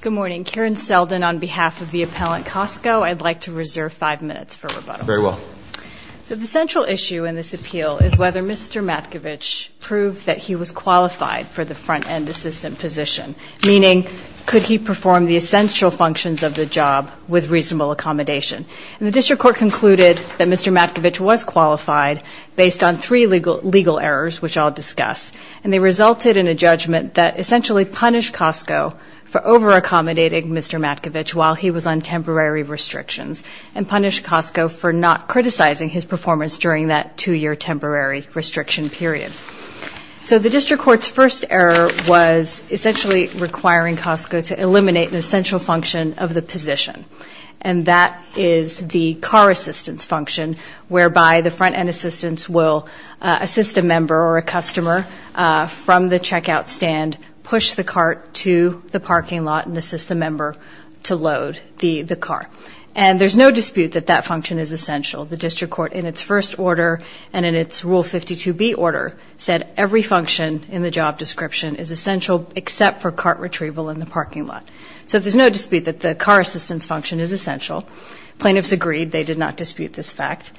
Good morning. Karen Seldin on behalf of the appellant COSTCO. I'd like to reserve five minutes for rebuttal. Very well. So the central issue in this appeal is whether Mr. Matkovich proved that he was qualified for the front-end assistant position, meaning could he perform the essential functions of the job with reasonable accommodation. The district court concluded that Mr. Matkovich was qualified based on three legal errors, which I'll discuss, and they resulted in a judgment that essentially punished COSTCO for over-accommodating Mr. Matkovich while he was on temporary restrictions and punished COSTCO for not criticizing his performance during that two-year temporary restriction period. So the district court's first error was essentially requiring COSTCO to eliminate an essential function of the position, and that is the car assistance function, whereby the front-end assistants will assist a member or a customer from the checkout stand, push the cart to the parking lot, and assist the member to load the car. And there's no dispute that that function is essential. The district court in its first order and in its Rule 52B order said every function in the job description is essential except for cart retrieval in the parking lot. So there's no dispute that the car assistance function is essential. Plaintiffs agreed. They did not dispute this fact.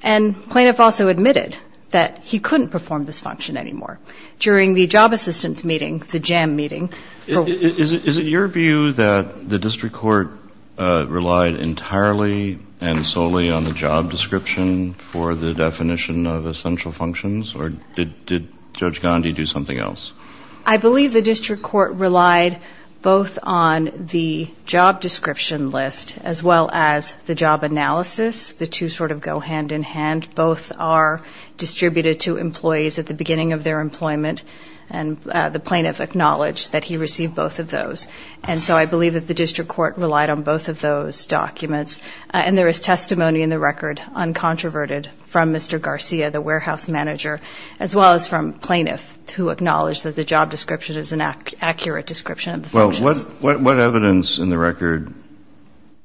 And plaintiff also admitted that he couldn't perform this function anymore during the job assistance meeting, the JAM meeting. Is it your view that the district court relied entirely and solely on the job description for the definition of essential functions, or did Judge Gandhi do something else? I believe the district court relied both on the job description list as well as the job analysis. The two sort of go hand in hand. Both are distributed to employees at the beginning of their employment, and the plaintiff acknowledged that he received both of those. And so I believe that the district court relied on both of those documents. And there is testimony in the record, uncontroverted, from Mr. Garcia, the warehouse manager, as well as from plaintiff who acknowledged that the job description is an accurate description of the functions. Well, what evidence in the record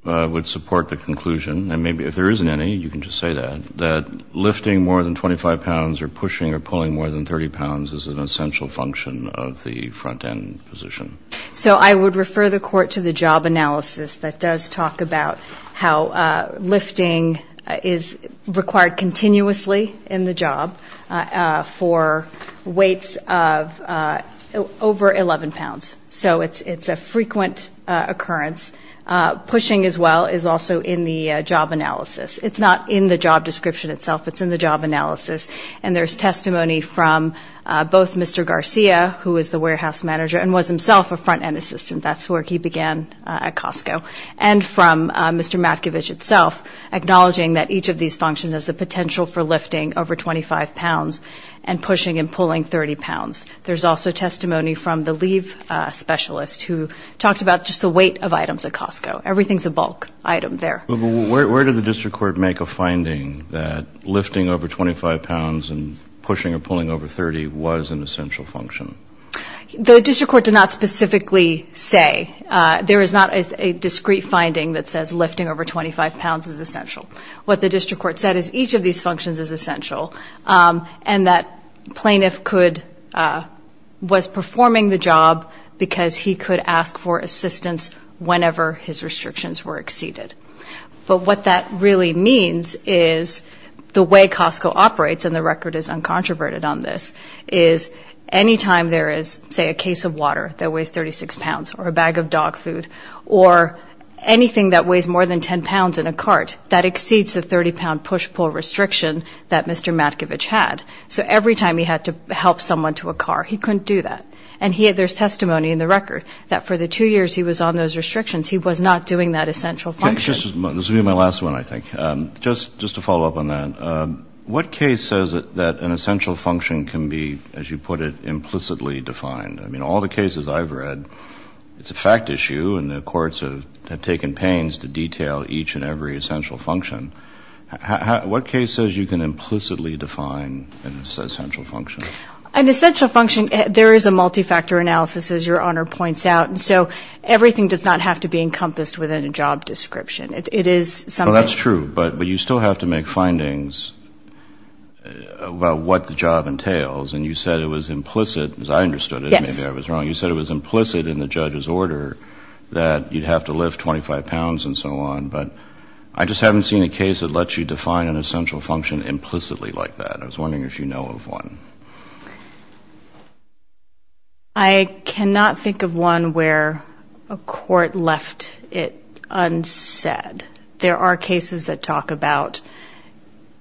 would support the conclusion, and maybe if there isn't any, you can just say that, that lifting more than 25 pounds or pushing or pulling more than 30 pounds is an essential function of the front-end position? So I would refer the court to the job analysis that does talk about how lifting is required continuously in the job for weights of over 11 pounds. So it's a frequent occurrence. Pushing as well is also in the job analysis. It's not in the job description itself. It's in the job analysis. And there's testimony from both Mr. Garcia, who is the warehouse manager, and was himself a front-end assistant. That's where he began at Costco. And from Mr. Matkovich itself, acknowledging that each of these functions has the potential for lifting over 25 pounds and pushing and pulling 30 pounds. There's also testimony from the leave specialist who talked about just the weight of items at Costco. Everything's a bulk item there. Where did the district court make a finding that lifting over 25 pounds and pushing or pulling over 30 was an essential function? The district court did not specifically say. There is not a discrete finding that says lifting over 25 pounds is essential. What the district court said is each of these functions is essential. And that plaintiff could, was performing the job because he could ask for assistance whenever his restrictions were exceeded. But what that really means is the way Costco operates, and the record is uncontroverted on this, is any time there is, say, a case of water that weighs 36 pounds, or a bag of dog food, or anything that weighs more than 10 pounds in a cart, that exceeds the 30-pound push-pull restriction that Mr. Matkovich had. So every time he had to help someone to a car, he couldn't do that. And there's testimony in the record that for the two years he was on those restrictions, he was not doing that essential function. This will be my last one, I think. Just to follow up on that. What case says that an essential function can be, as you put it, implicitly defined? I mean, all the cases I've read, it's a fact issue, and the courts have taken pains to detail each and every essential function. What case says you can implicitly define an essential function? An essential function, there is a multi-factor analysis, as Your Honor points out. So everything does not have to be encompassed within a job description. Well, that's true, but you still have to make findings about what the job entails. And you said it was implicit, as I understood it, maybe I was wrong. You said it was implicit in the judge's order that you'd have to lift 25 pounds and so on. But I just haven't seen a case that lets you define an essential function implicitly like that. I was wondering if you know of one. I cannot think of one where a court left it unsaid. There are cases that talk about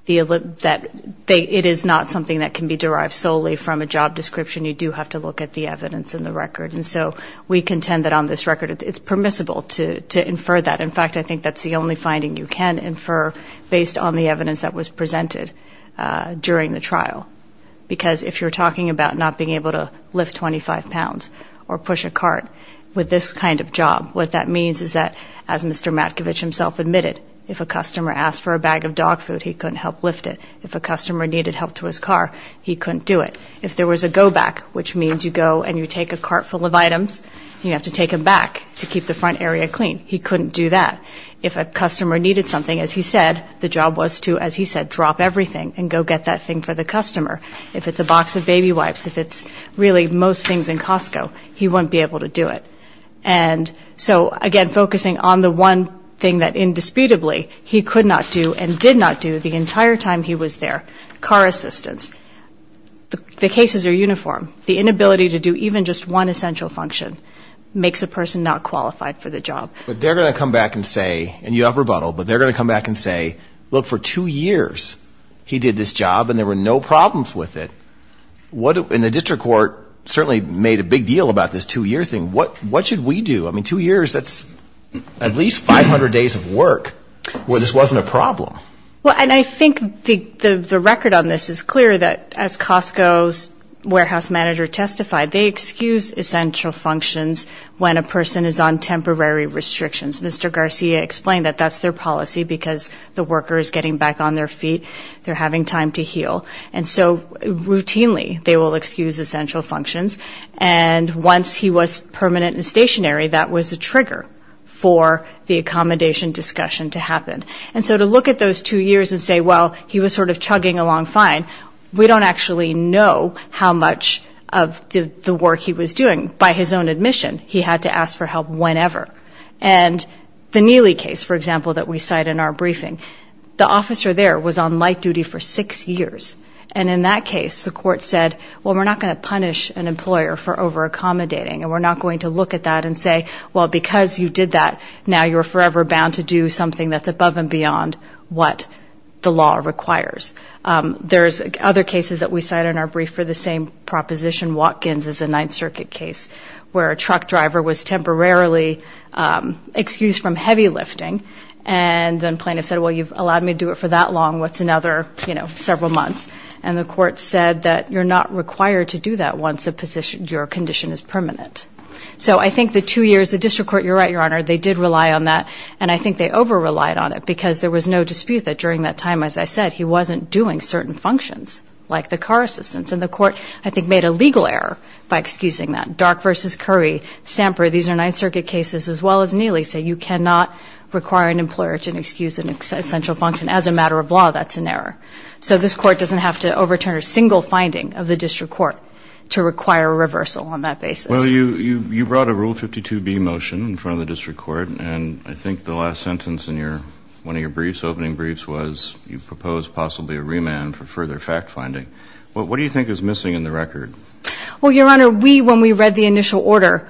that it is not something that can be derived solely from a job description. You do have to look at the evidence in the record. And so we contend that on this record, it's permissible to infer that. In fact, I think that's the only finding you can infer based on the evidence that was presented during the trial. Because if you're talking about not being able to lift 25 pounds or push a cart with this kind of job, what that means is that, as Mr. Matkovich himself said, he himself admitted if a customer asked for a bag of dog food, he couldn't help lift it. If a customer needed help to his car, he couldn't do it. If there was a go back, which means you go and you take a cart full of items, you have to take them back to keep the front area clean. He couldn't do that. If a customer needed something, as he said, the job was to, as he said, drop everything and go get that thing for the customer. If it's a box of baby wipes, if it's really most things in Costco, he wouldn't be able to do it. And so, again, focusing on the one thing that indisputably he could not do and did not do the entire time he was there, car assistance. The cases are uniform. The inability to do even just one essential function makes a person not qualified for the job. But they're going to come back and say, and you have rebuttal, but they're going to come back and say, look, for two years he did this job and there were no problems with it. And the district court certainly made a big deal about this two-year thing. What should we do? I mean, two years, that's at least 500 days of work where this wasn't a problem. Well, and I think the record on this is clear that as Costco's warehouse manager testified, they excuse essential functions when a person is on temporary restrictions. Mr. Garcia explained that that's their policy because the worker is getting back on their feet, they're having time to heal. And so routinely they will excuse essential functions. And once he was permanent and stationary, that was a trigger for the accommodation discussion to happen. And so to look at those two years and say, well, he was sort of chugging along fine, we don't actually know how much of the work he was doing. By his own admission, he had to ask for help whenever. And the Neely case, for example, that we cite in our briefing, the officer there was on light duty for six years. And in that case, the court said, well, we're not going to punish an employer for over-accommodating. And we're not going to look at that and say, well, because you did that, now you're forever bound to do something that's above and beyond what the law requires. There's other cases that we cite in our brief for the same proposition. Watkins is a Ninth Circuit case where a truck driver was temporarily excused from heavy lifting. And then plaintiff said, well, you've allowed me to do it for that long. What's another, you know, several months? And the court said that you're not required to do that once your condition is permanent. So I think the two years, the district court, you're right, Your Honor, they did rely on that. And I think they over-relied on it because there was no dispute that during that time, as I said, he wasn't doing certain functions, like the car assistance. And the court, I think, made a legal error by excusing that. Dark v. Curry, Samper, these are Ninth Circuit cases, as well as Neely, say you cannot require an employer to excuse an essential function. As a matter of law, that's an error. So this court doesn't have to overturn a single finding of the district court to require a reversal on that basis. Well, you brought a Rule 52B motion in front of the district court. And I think the last sentence in one of your briefs, opening briefs, was you propose possibly a remand for further fact-finding. What do you think is missing in the record? Well, Your Honor, we, when we read the initial order,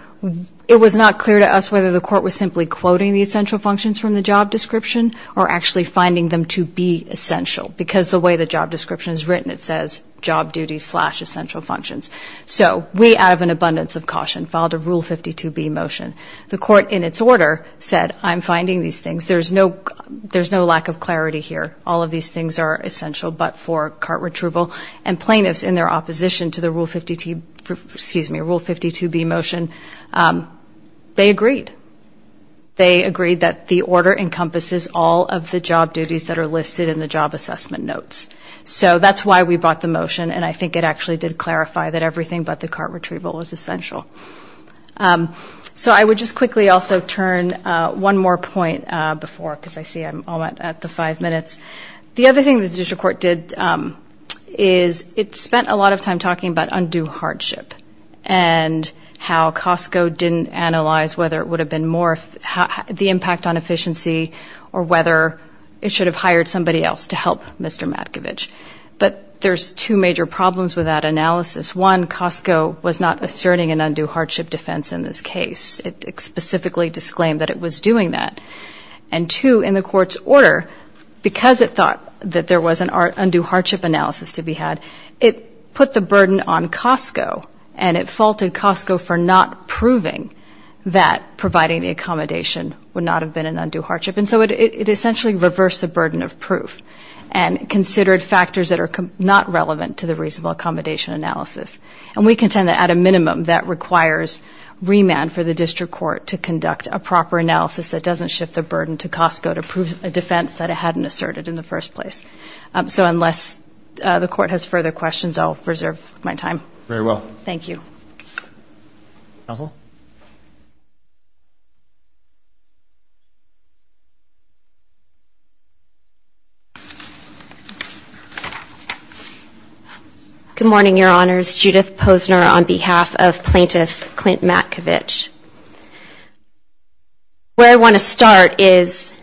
it was not clear to us whether the court was simply quoting the essential functions from the job description to be essential, because the way the job description is written, it says job duties slash essential functions. So we, out of an abundance of caution, filed a Rule 52B motion. The court, in its order, said I'm finding these things. There's no lack of clarity here. All of these things are essential but for cart retrieval. And plaintiffs, in their opposition to the Rule 52B motion, they agreed. They agreed that the order encompasses all of the job duties that are listed in the job assessment notes. So that's why we brought the motion. And I think it actually did clarify that everything but the cart retrieval was essential. So I would just quickly also turn one more point before, because I see I'm all at the five minutes. The other thing the district court did is it spent a lot of time talking about undue hardship. And how Costco didn't analyze whether it would have been more, the impact on efficiency or whether it should have hired somebody else to help Mr. Matkovich. But there's two major problems with that analysis. One, Costco was not asserting an undue hardship defense in this case. It specifically disclaimed that it was doing that. And two, in the court's order, because it thought that there was an undue hardship analysis to be had, it put the burden on Costco. And it faulted Costco for not proving that providing the accommodation would not have been an undue hardship. And so it essentially reversed the burden of proof and considered factors that are not relevant to the reasonable accommodation analysis. And we contend that at a minimum, that requires remand for the district court to conduct a proper analysis that doesn't shift the burden to Costco to prove a defense that it hadn't asserted in the first place. So unless the court has further questions, I'll reserve my time. Thank you. Good morning, Your Honors. Judith Posner on behalf of Plaintiff Clint Matkovich. Where I want to start is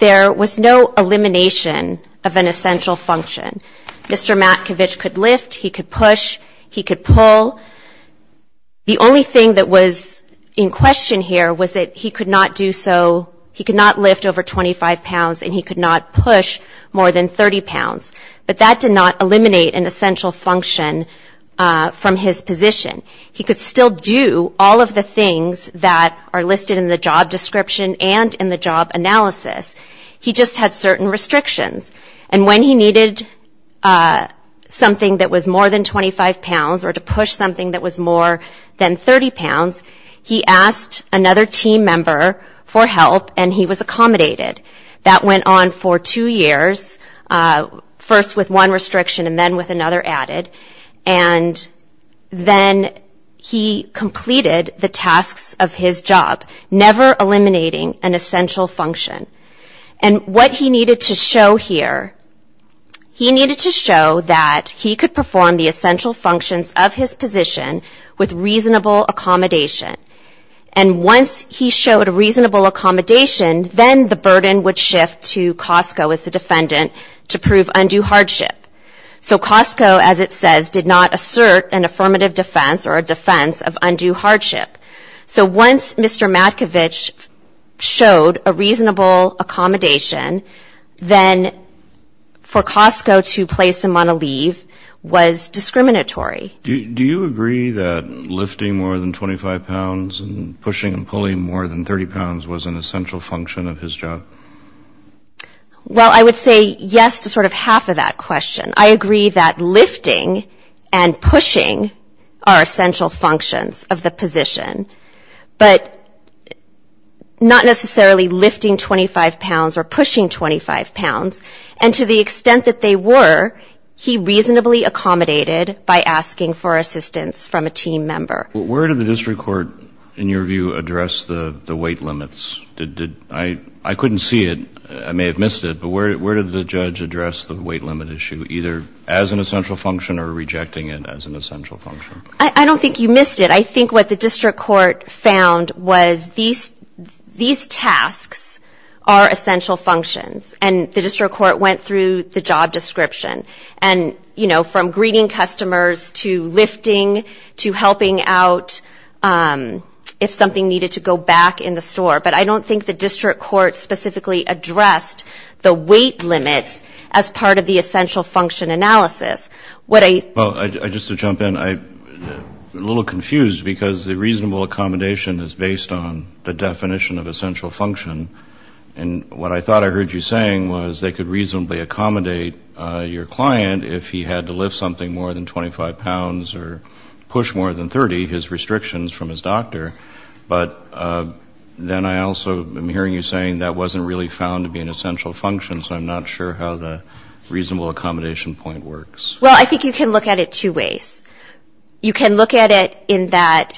there was no elimination of an essential function. Mr. Matkovich could lift, he could push, he could pull. The only thing that was in question here was that he could not do so, he could not lift over 25 pounds and he could not push more than 30 pounds. But that did not eliminate an essential function from his position. He could still do all of the things that are listed in the job description and in the job analysis. He just had certain restrictions. And when he needed something that was more than 25 pounds or to push something that was more than 30 pounds, he asked another team member for help and he was accommodated. That went on for two years, first with one restriction and then with another added. And then he completed the tasks of his job, never eliminating an essential function. And what he needed to show here, he needed to show that he could perform the essential functions of his position with reasonable accommodation. And once he showed a reasonable accommodation, then the burden would shift to Costco as the defendant to prove undue hardship. So Costco, as it says, did not assert an affirmative defense or a defense of undue hardship. So once Mr. Matkovich showed a reasonable accommodation, then for Costco to place him on a leave was discriminatory. Do you agree that lifting more than 25 pounds and pushing and pulling more than 30 pounds was an essential function of his job? Well, I would say yes to sort of half of that question. I agree that lifting and pushing are essential functions of the position, but not necessarily lifting 25 pounds or pushing 25 pounds. And to the extent that they were, he reasonably accommodated by asking for assistance from a team member. Where did the district court, in your view, address the weight limits? I couldn't see it. I may have missed it, but where did the judge address the weight limit issue, either as an essential function or rejecting it as an essential function? I don't think you missed it. I think what the district court found was these tasks are essential functions. And the district court went through the job description. And, you know, from greeting customers to lifting to helping out if something needed to go back in the store. But I don't think the district court specifically addressed the weight limits as part of the essential function analysis. Well, just to jump in, I'm a little confused because the reasonable accommodation is based on the definition of essential function. And what I thought I heard you saying was they could reasonably accommodate your client if he had to lift something more than 25 pounds or push more than 30, his restrictions from his doctor. But then I also am hearing you saying that wasn't really found to be an essential function. So I'm not sure how the reasonable accommodation point works. Well, I think you can look at it two ways. You can look at it in that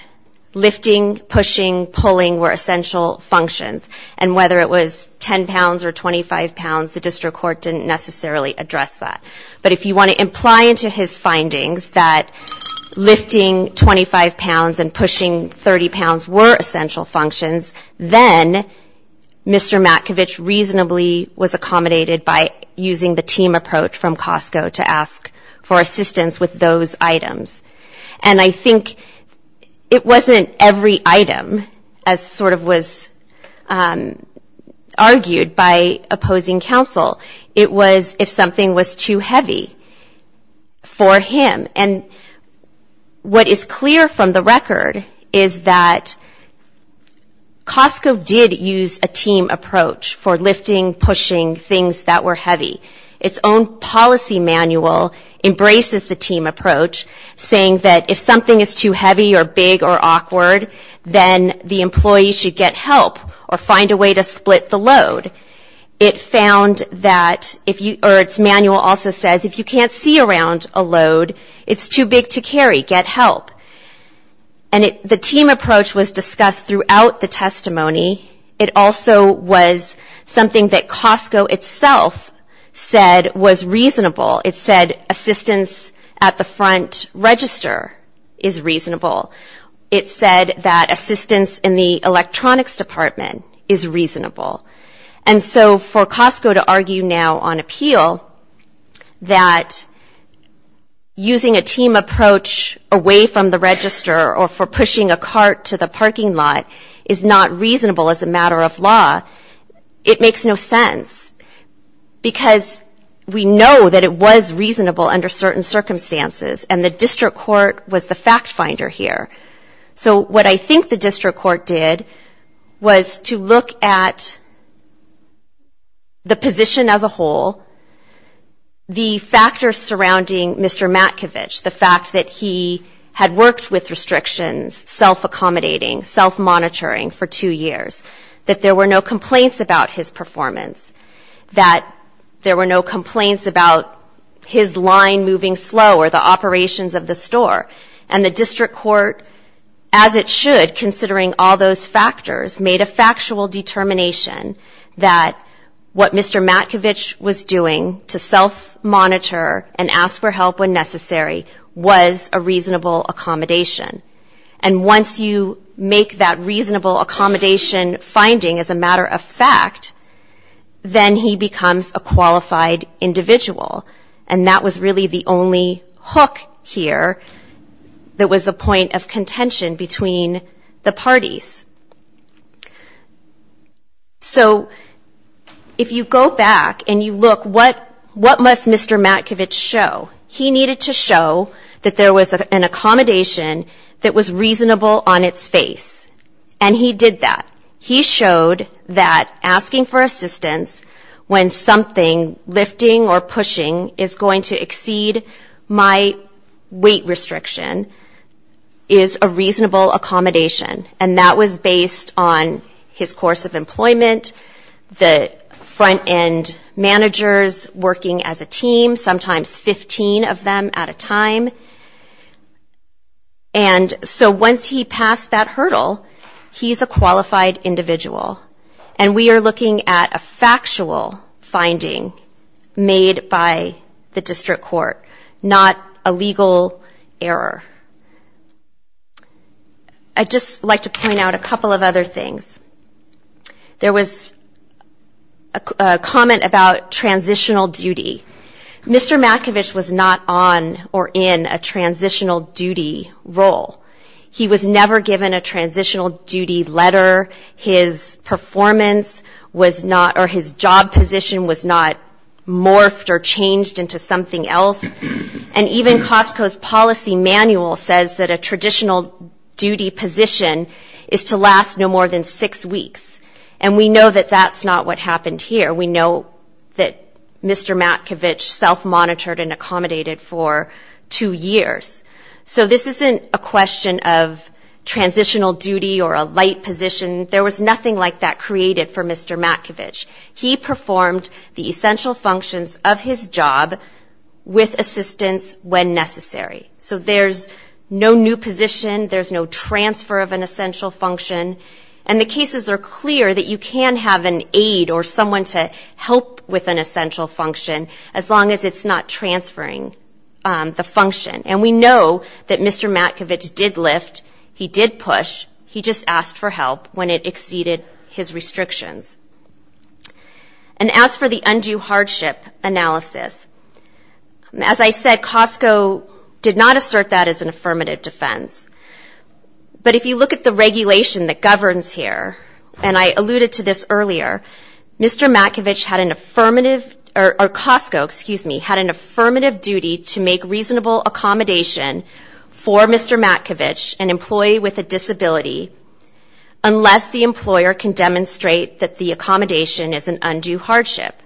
lifting, pushing, pulling were essential functions. And whether it was 10 pounds or 25 pounds, the district court didn't necessarily address that. But if you want to imply into his findings that lifting 25 pounds and pushing 30 pounds was an essential function, I think you can look at it two ways. If lifting 25 pounds and pushing 30 pounds were essential functions, then Mr. Matkovich reasonably was accommodated by using the team approach from Costco to ask for assistance with those items. And I think it wasn't every item as sort of was argued by opposing counsel. It was if something was too heavy for him. And what is clear from the record is that Costco did use a team approach for lifting, pushing things that were heavy. Its own policy manual embraces the team approach, saying that if something is too heavy or big or awkward, then the employee should get help or find a way to split the load. It found that if you or its manual also says if you can't see around a load, you can't lift it. It's too big to carry. Get help. And the team approach was discussed throughout the testimony. It also was something that Costco itself said was reasonable. It said assistance at the front register is reasonable. It said that assistance in the electronics department is reasonable. And so for Costco to argue now on appeal that using a team approach was not reasonable, it was not reasonable. If using a team approach away from the register or for pushing a cart to the parking lot is not reasonable as a matter of law, it makes no sense. Because we know that it was reasonable under certain circumstances. And the district court was the fact finder here. So what I think the district court did was to look at the position as a whole, the factors surrounding Mr. Matkovich. The fact that he had worked with restrictions, self-accommodating, self-monitoring for two years. That there were no complaints about his performance. That there were no complaints about his line moving slow or the operations of the store. And the district court, as it should, considering all those factors, made a factual determination that what Mr. Matkovich was doing to self-monitor and ask for help when necessary was reasonable. And once you make that reasonable accommodation finding as a matter of fact, then he becomes a qualified individual. And that was really the only hook here that was a point of contention between the parties. So if you go back and you look, what must Mr. Matkovich show? He needed to show that there was an accommodation that was reasonable on its face. And he did that. He showed that asking for assistance when something lifting or pushing is going to exceed my weight restriction is a reasonable accommodation. And that was based on his course of employment, the front-end managers working as a team, sometimes 15 people. Sometimes 15 of them at a time. And so once he passed that hurdle, he's a qualified individual. And we are looking at a factual finding made by the district court, not a legal error. I'd just like to point out a couple of other things. There was a comment about transitional duty. Mr. Matkovich was not on or in a transitional duty role. He was never given a transitional duty letter. His performance was not, or his job position was not morphed or changed into something else. And even Costco's policy manual says that a traditional duty position is to last no more than six weeks. And we know that that's not what happened here. We know that Mr. Matkovich self-monitored and accommodated for two years. So this isn't a question of transitional duty or a light position. There was nothing like that created for Mr. Matkovich. He performed the essential functions of his job with assistance when necessary. So there's no new position, there's no transfer of an essential function. And the cases are clear that you can have an aide or someone to help with an essential function, as long as it's not transferring the function. And we know that Mr. Matkovich did lift, he did push, he just asked for help when it exceeded his restrictions. And as for the undue hardship analysis, as I said, Costco did not assert that as an affirmative defense. But if you look at the regulation that governs here, and I alluded to this earlier, Mr. Matkovich had an affirmative, or Costco, excuse me, had an affirmative duty to make reasonable accommodation for Mr. Matkovich, an employee with a disability, unless the employer can demonstrate that the accommodation is an undue hardship.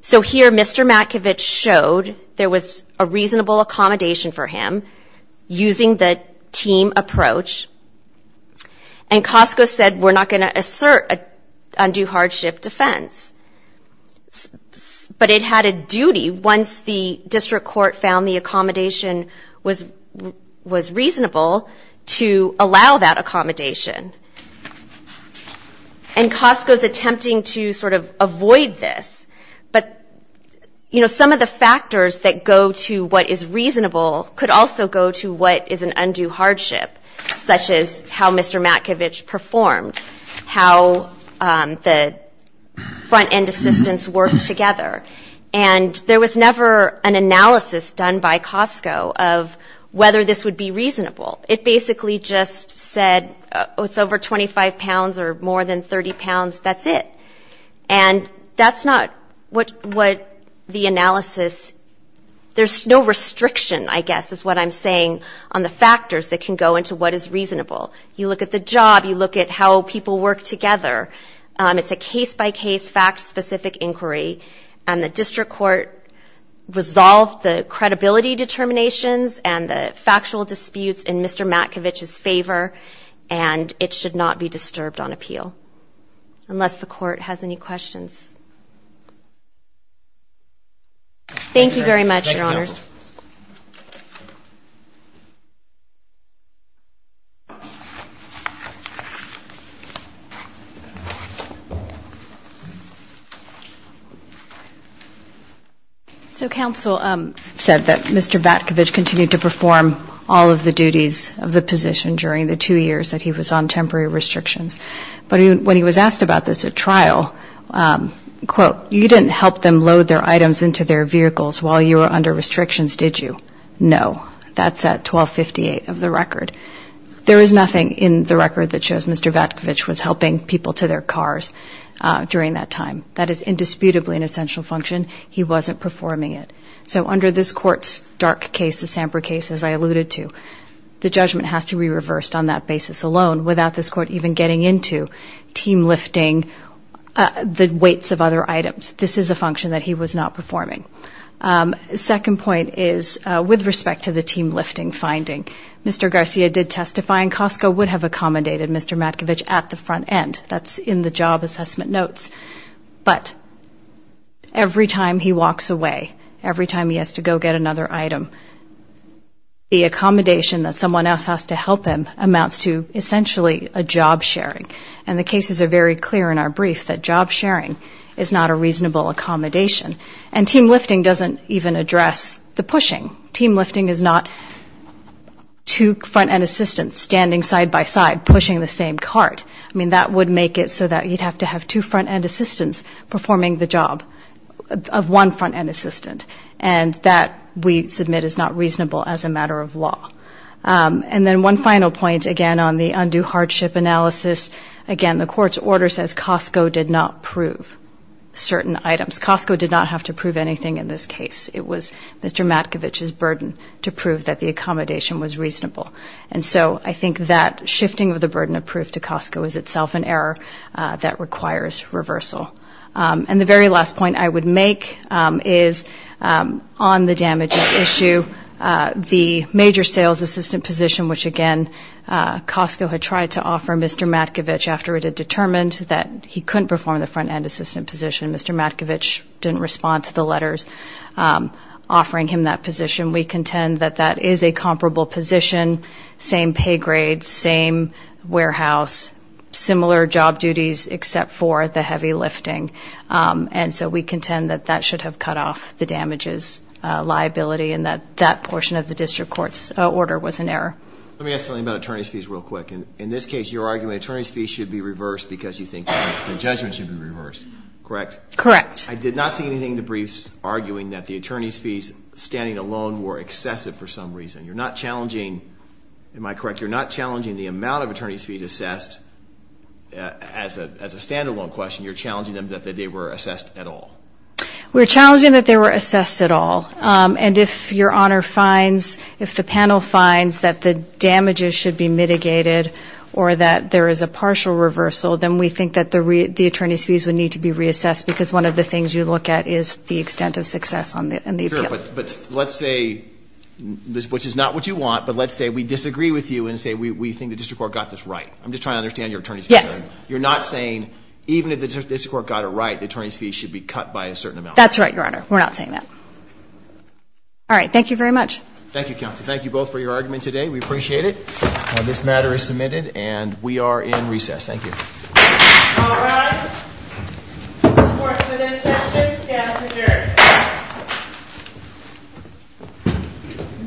So here Mr. Matkovich showed there was a reasonable accommodation for him, using the team as an affirmative defense. And Costco said we're not going to assert an undue hardship defense. But it had a duty, once the district court found the accommodation was reasonable, to allow that accommodation. And Costco's attempting to sort of avoid this, but, you know, some of the factors that go to what is reasonable could also go to what is an undue hardship. Such as how Mr. Matkovich performed, how the front-end assistants worked together. And there was never an analysis done by Costco of whether this would be reasonable. It basically just said it's over 25 pounds or more than 30 pounds, that's it. And that's not what the analysis, there's no restriction, I guess, is what I'm saying on the factors that can go into this. It doesn't go into what is reasonable. You look at the job, you look at how people work together. It's a case-by-case, fact-specific inquiry. And the district court resolved the credibility determinations and the factual disputes in Mr. Matkovich's favor. And it should not be disturbed on appeal. Unless the court has any questions. Thank you very much, Your Honors. Thank you. So counsel said that Mr. Matkovich continued to perform all of the duties of the position during the two years that he was on temporary restrictions. But when he was asked about this at trial, quote, you didn't help them load their items into their vehicles while you were under restrictions, did you? No. That's at 1258 of the record. There is nothing in the record that shows Mr. Matkovich was helping people to their cars during that time. That is indisputably an essential function. He wasn't performing it. So under this Court's dark case, the Samper case, as I alluded to, the judgment has to be reversed on that basis alone, without this Court even getting into team lifting the weights of other items. This is a function that he was not performing. Second point is with respect to the team lifting finding, Mr. Garcia did testify in Costco would have accommodated Mr. Matkovich at the front end. That's in the job assessment notes. But every time he walks away, every time he has to go get another item, the accommodation that someone else has to help him amounts to essentially a job sharing. And the cases are very clear in our brief that job sharing is not a reasonable accommodation. And team lifting doesn't even address the pushing. Team lifting is not two front end assistants standing side by side pushing the same cart. I mean, that would make it so that you'd have to have two front end assistants performing the job of one front end assistant. And that, we submit, is not reasonable as a matter of law. And then one final point, again, on the undue hardship analysis. Again, the Court's order says Costco did not prove certain items. Costco did not have to prove anything in this case. It was Mr. Matkovich's burden to prove that the accommodation was reasonable. And so I think that shifting of the burden of proof to Costco is itself an error that requires reversal. And the very last point I would make is on the damages issue. The major sales assistant position, which, again, Costco had tried to offer Mr. Matkovich after it had determined that he couldn't perform the front end assistant position. Mr. Matkovich didn't respond to the letters offering him that position. We contend that that is a comparable position, same pay grade, same warehouse, similar job duties, except for the heavy lifting. And so we contend that that should have cut off the damages liability and that that should have cut off the damages liability. And so I think that that portion of the District Court's order was an error. Let me ask something about attorney's fees real quick. In this case, you're arguing attorney's fees should be reversed because you think the judgment should be reversed, correct? Correct. I did not see anything in the briefs arguing that the attorney's fees standing alone were excessive for some reason. You're not challenging, am I correct, you're not challenging the amount of attorney's fees assessed as a stand-alone question. You're challenging them that they were assessed at all. We're challenging that they were assessed at all. And if Your Honor finds, if the panel finds that the damages should be mitigated or that there is a partial reversal, then we think that the attorney's fees would need to be reassessed because one of the things you look at is the extent of success in the appeal. Sure. But let's say, which is not what you want, but let's say we disagree with you and say we think the District Court got this right. I'm just trying to understand your attorney's fee argument. You're not saying even if the District Court got it right, the attorney's fees should be cut by a certain amount. That's right, Your Honor. We're not saying that. All right. Thank you very much. Thank you, counsel. Thank you both for your argument today. We appreciate it. This matter is submitted and we are in recess. Thank you.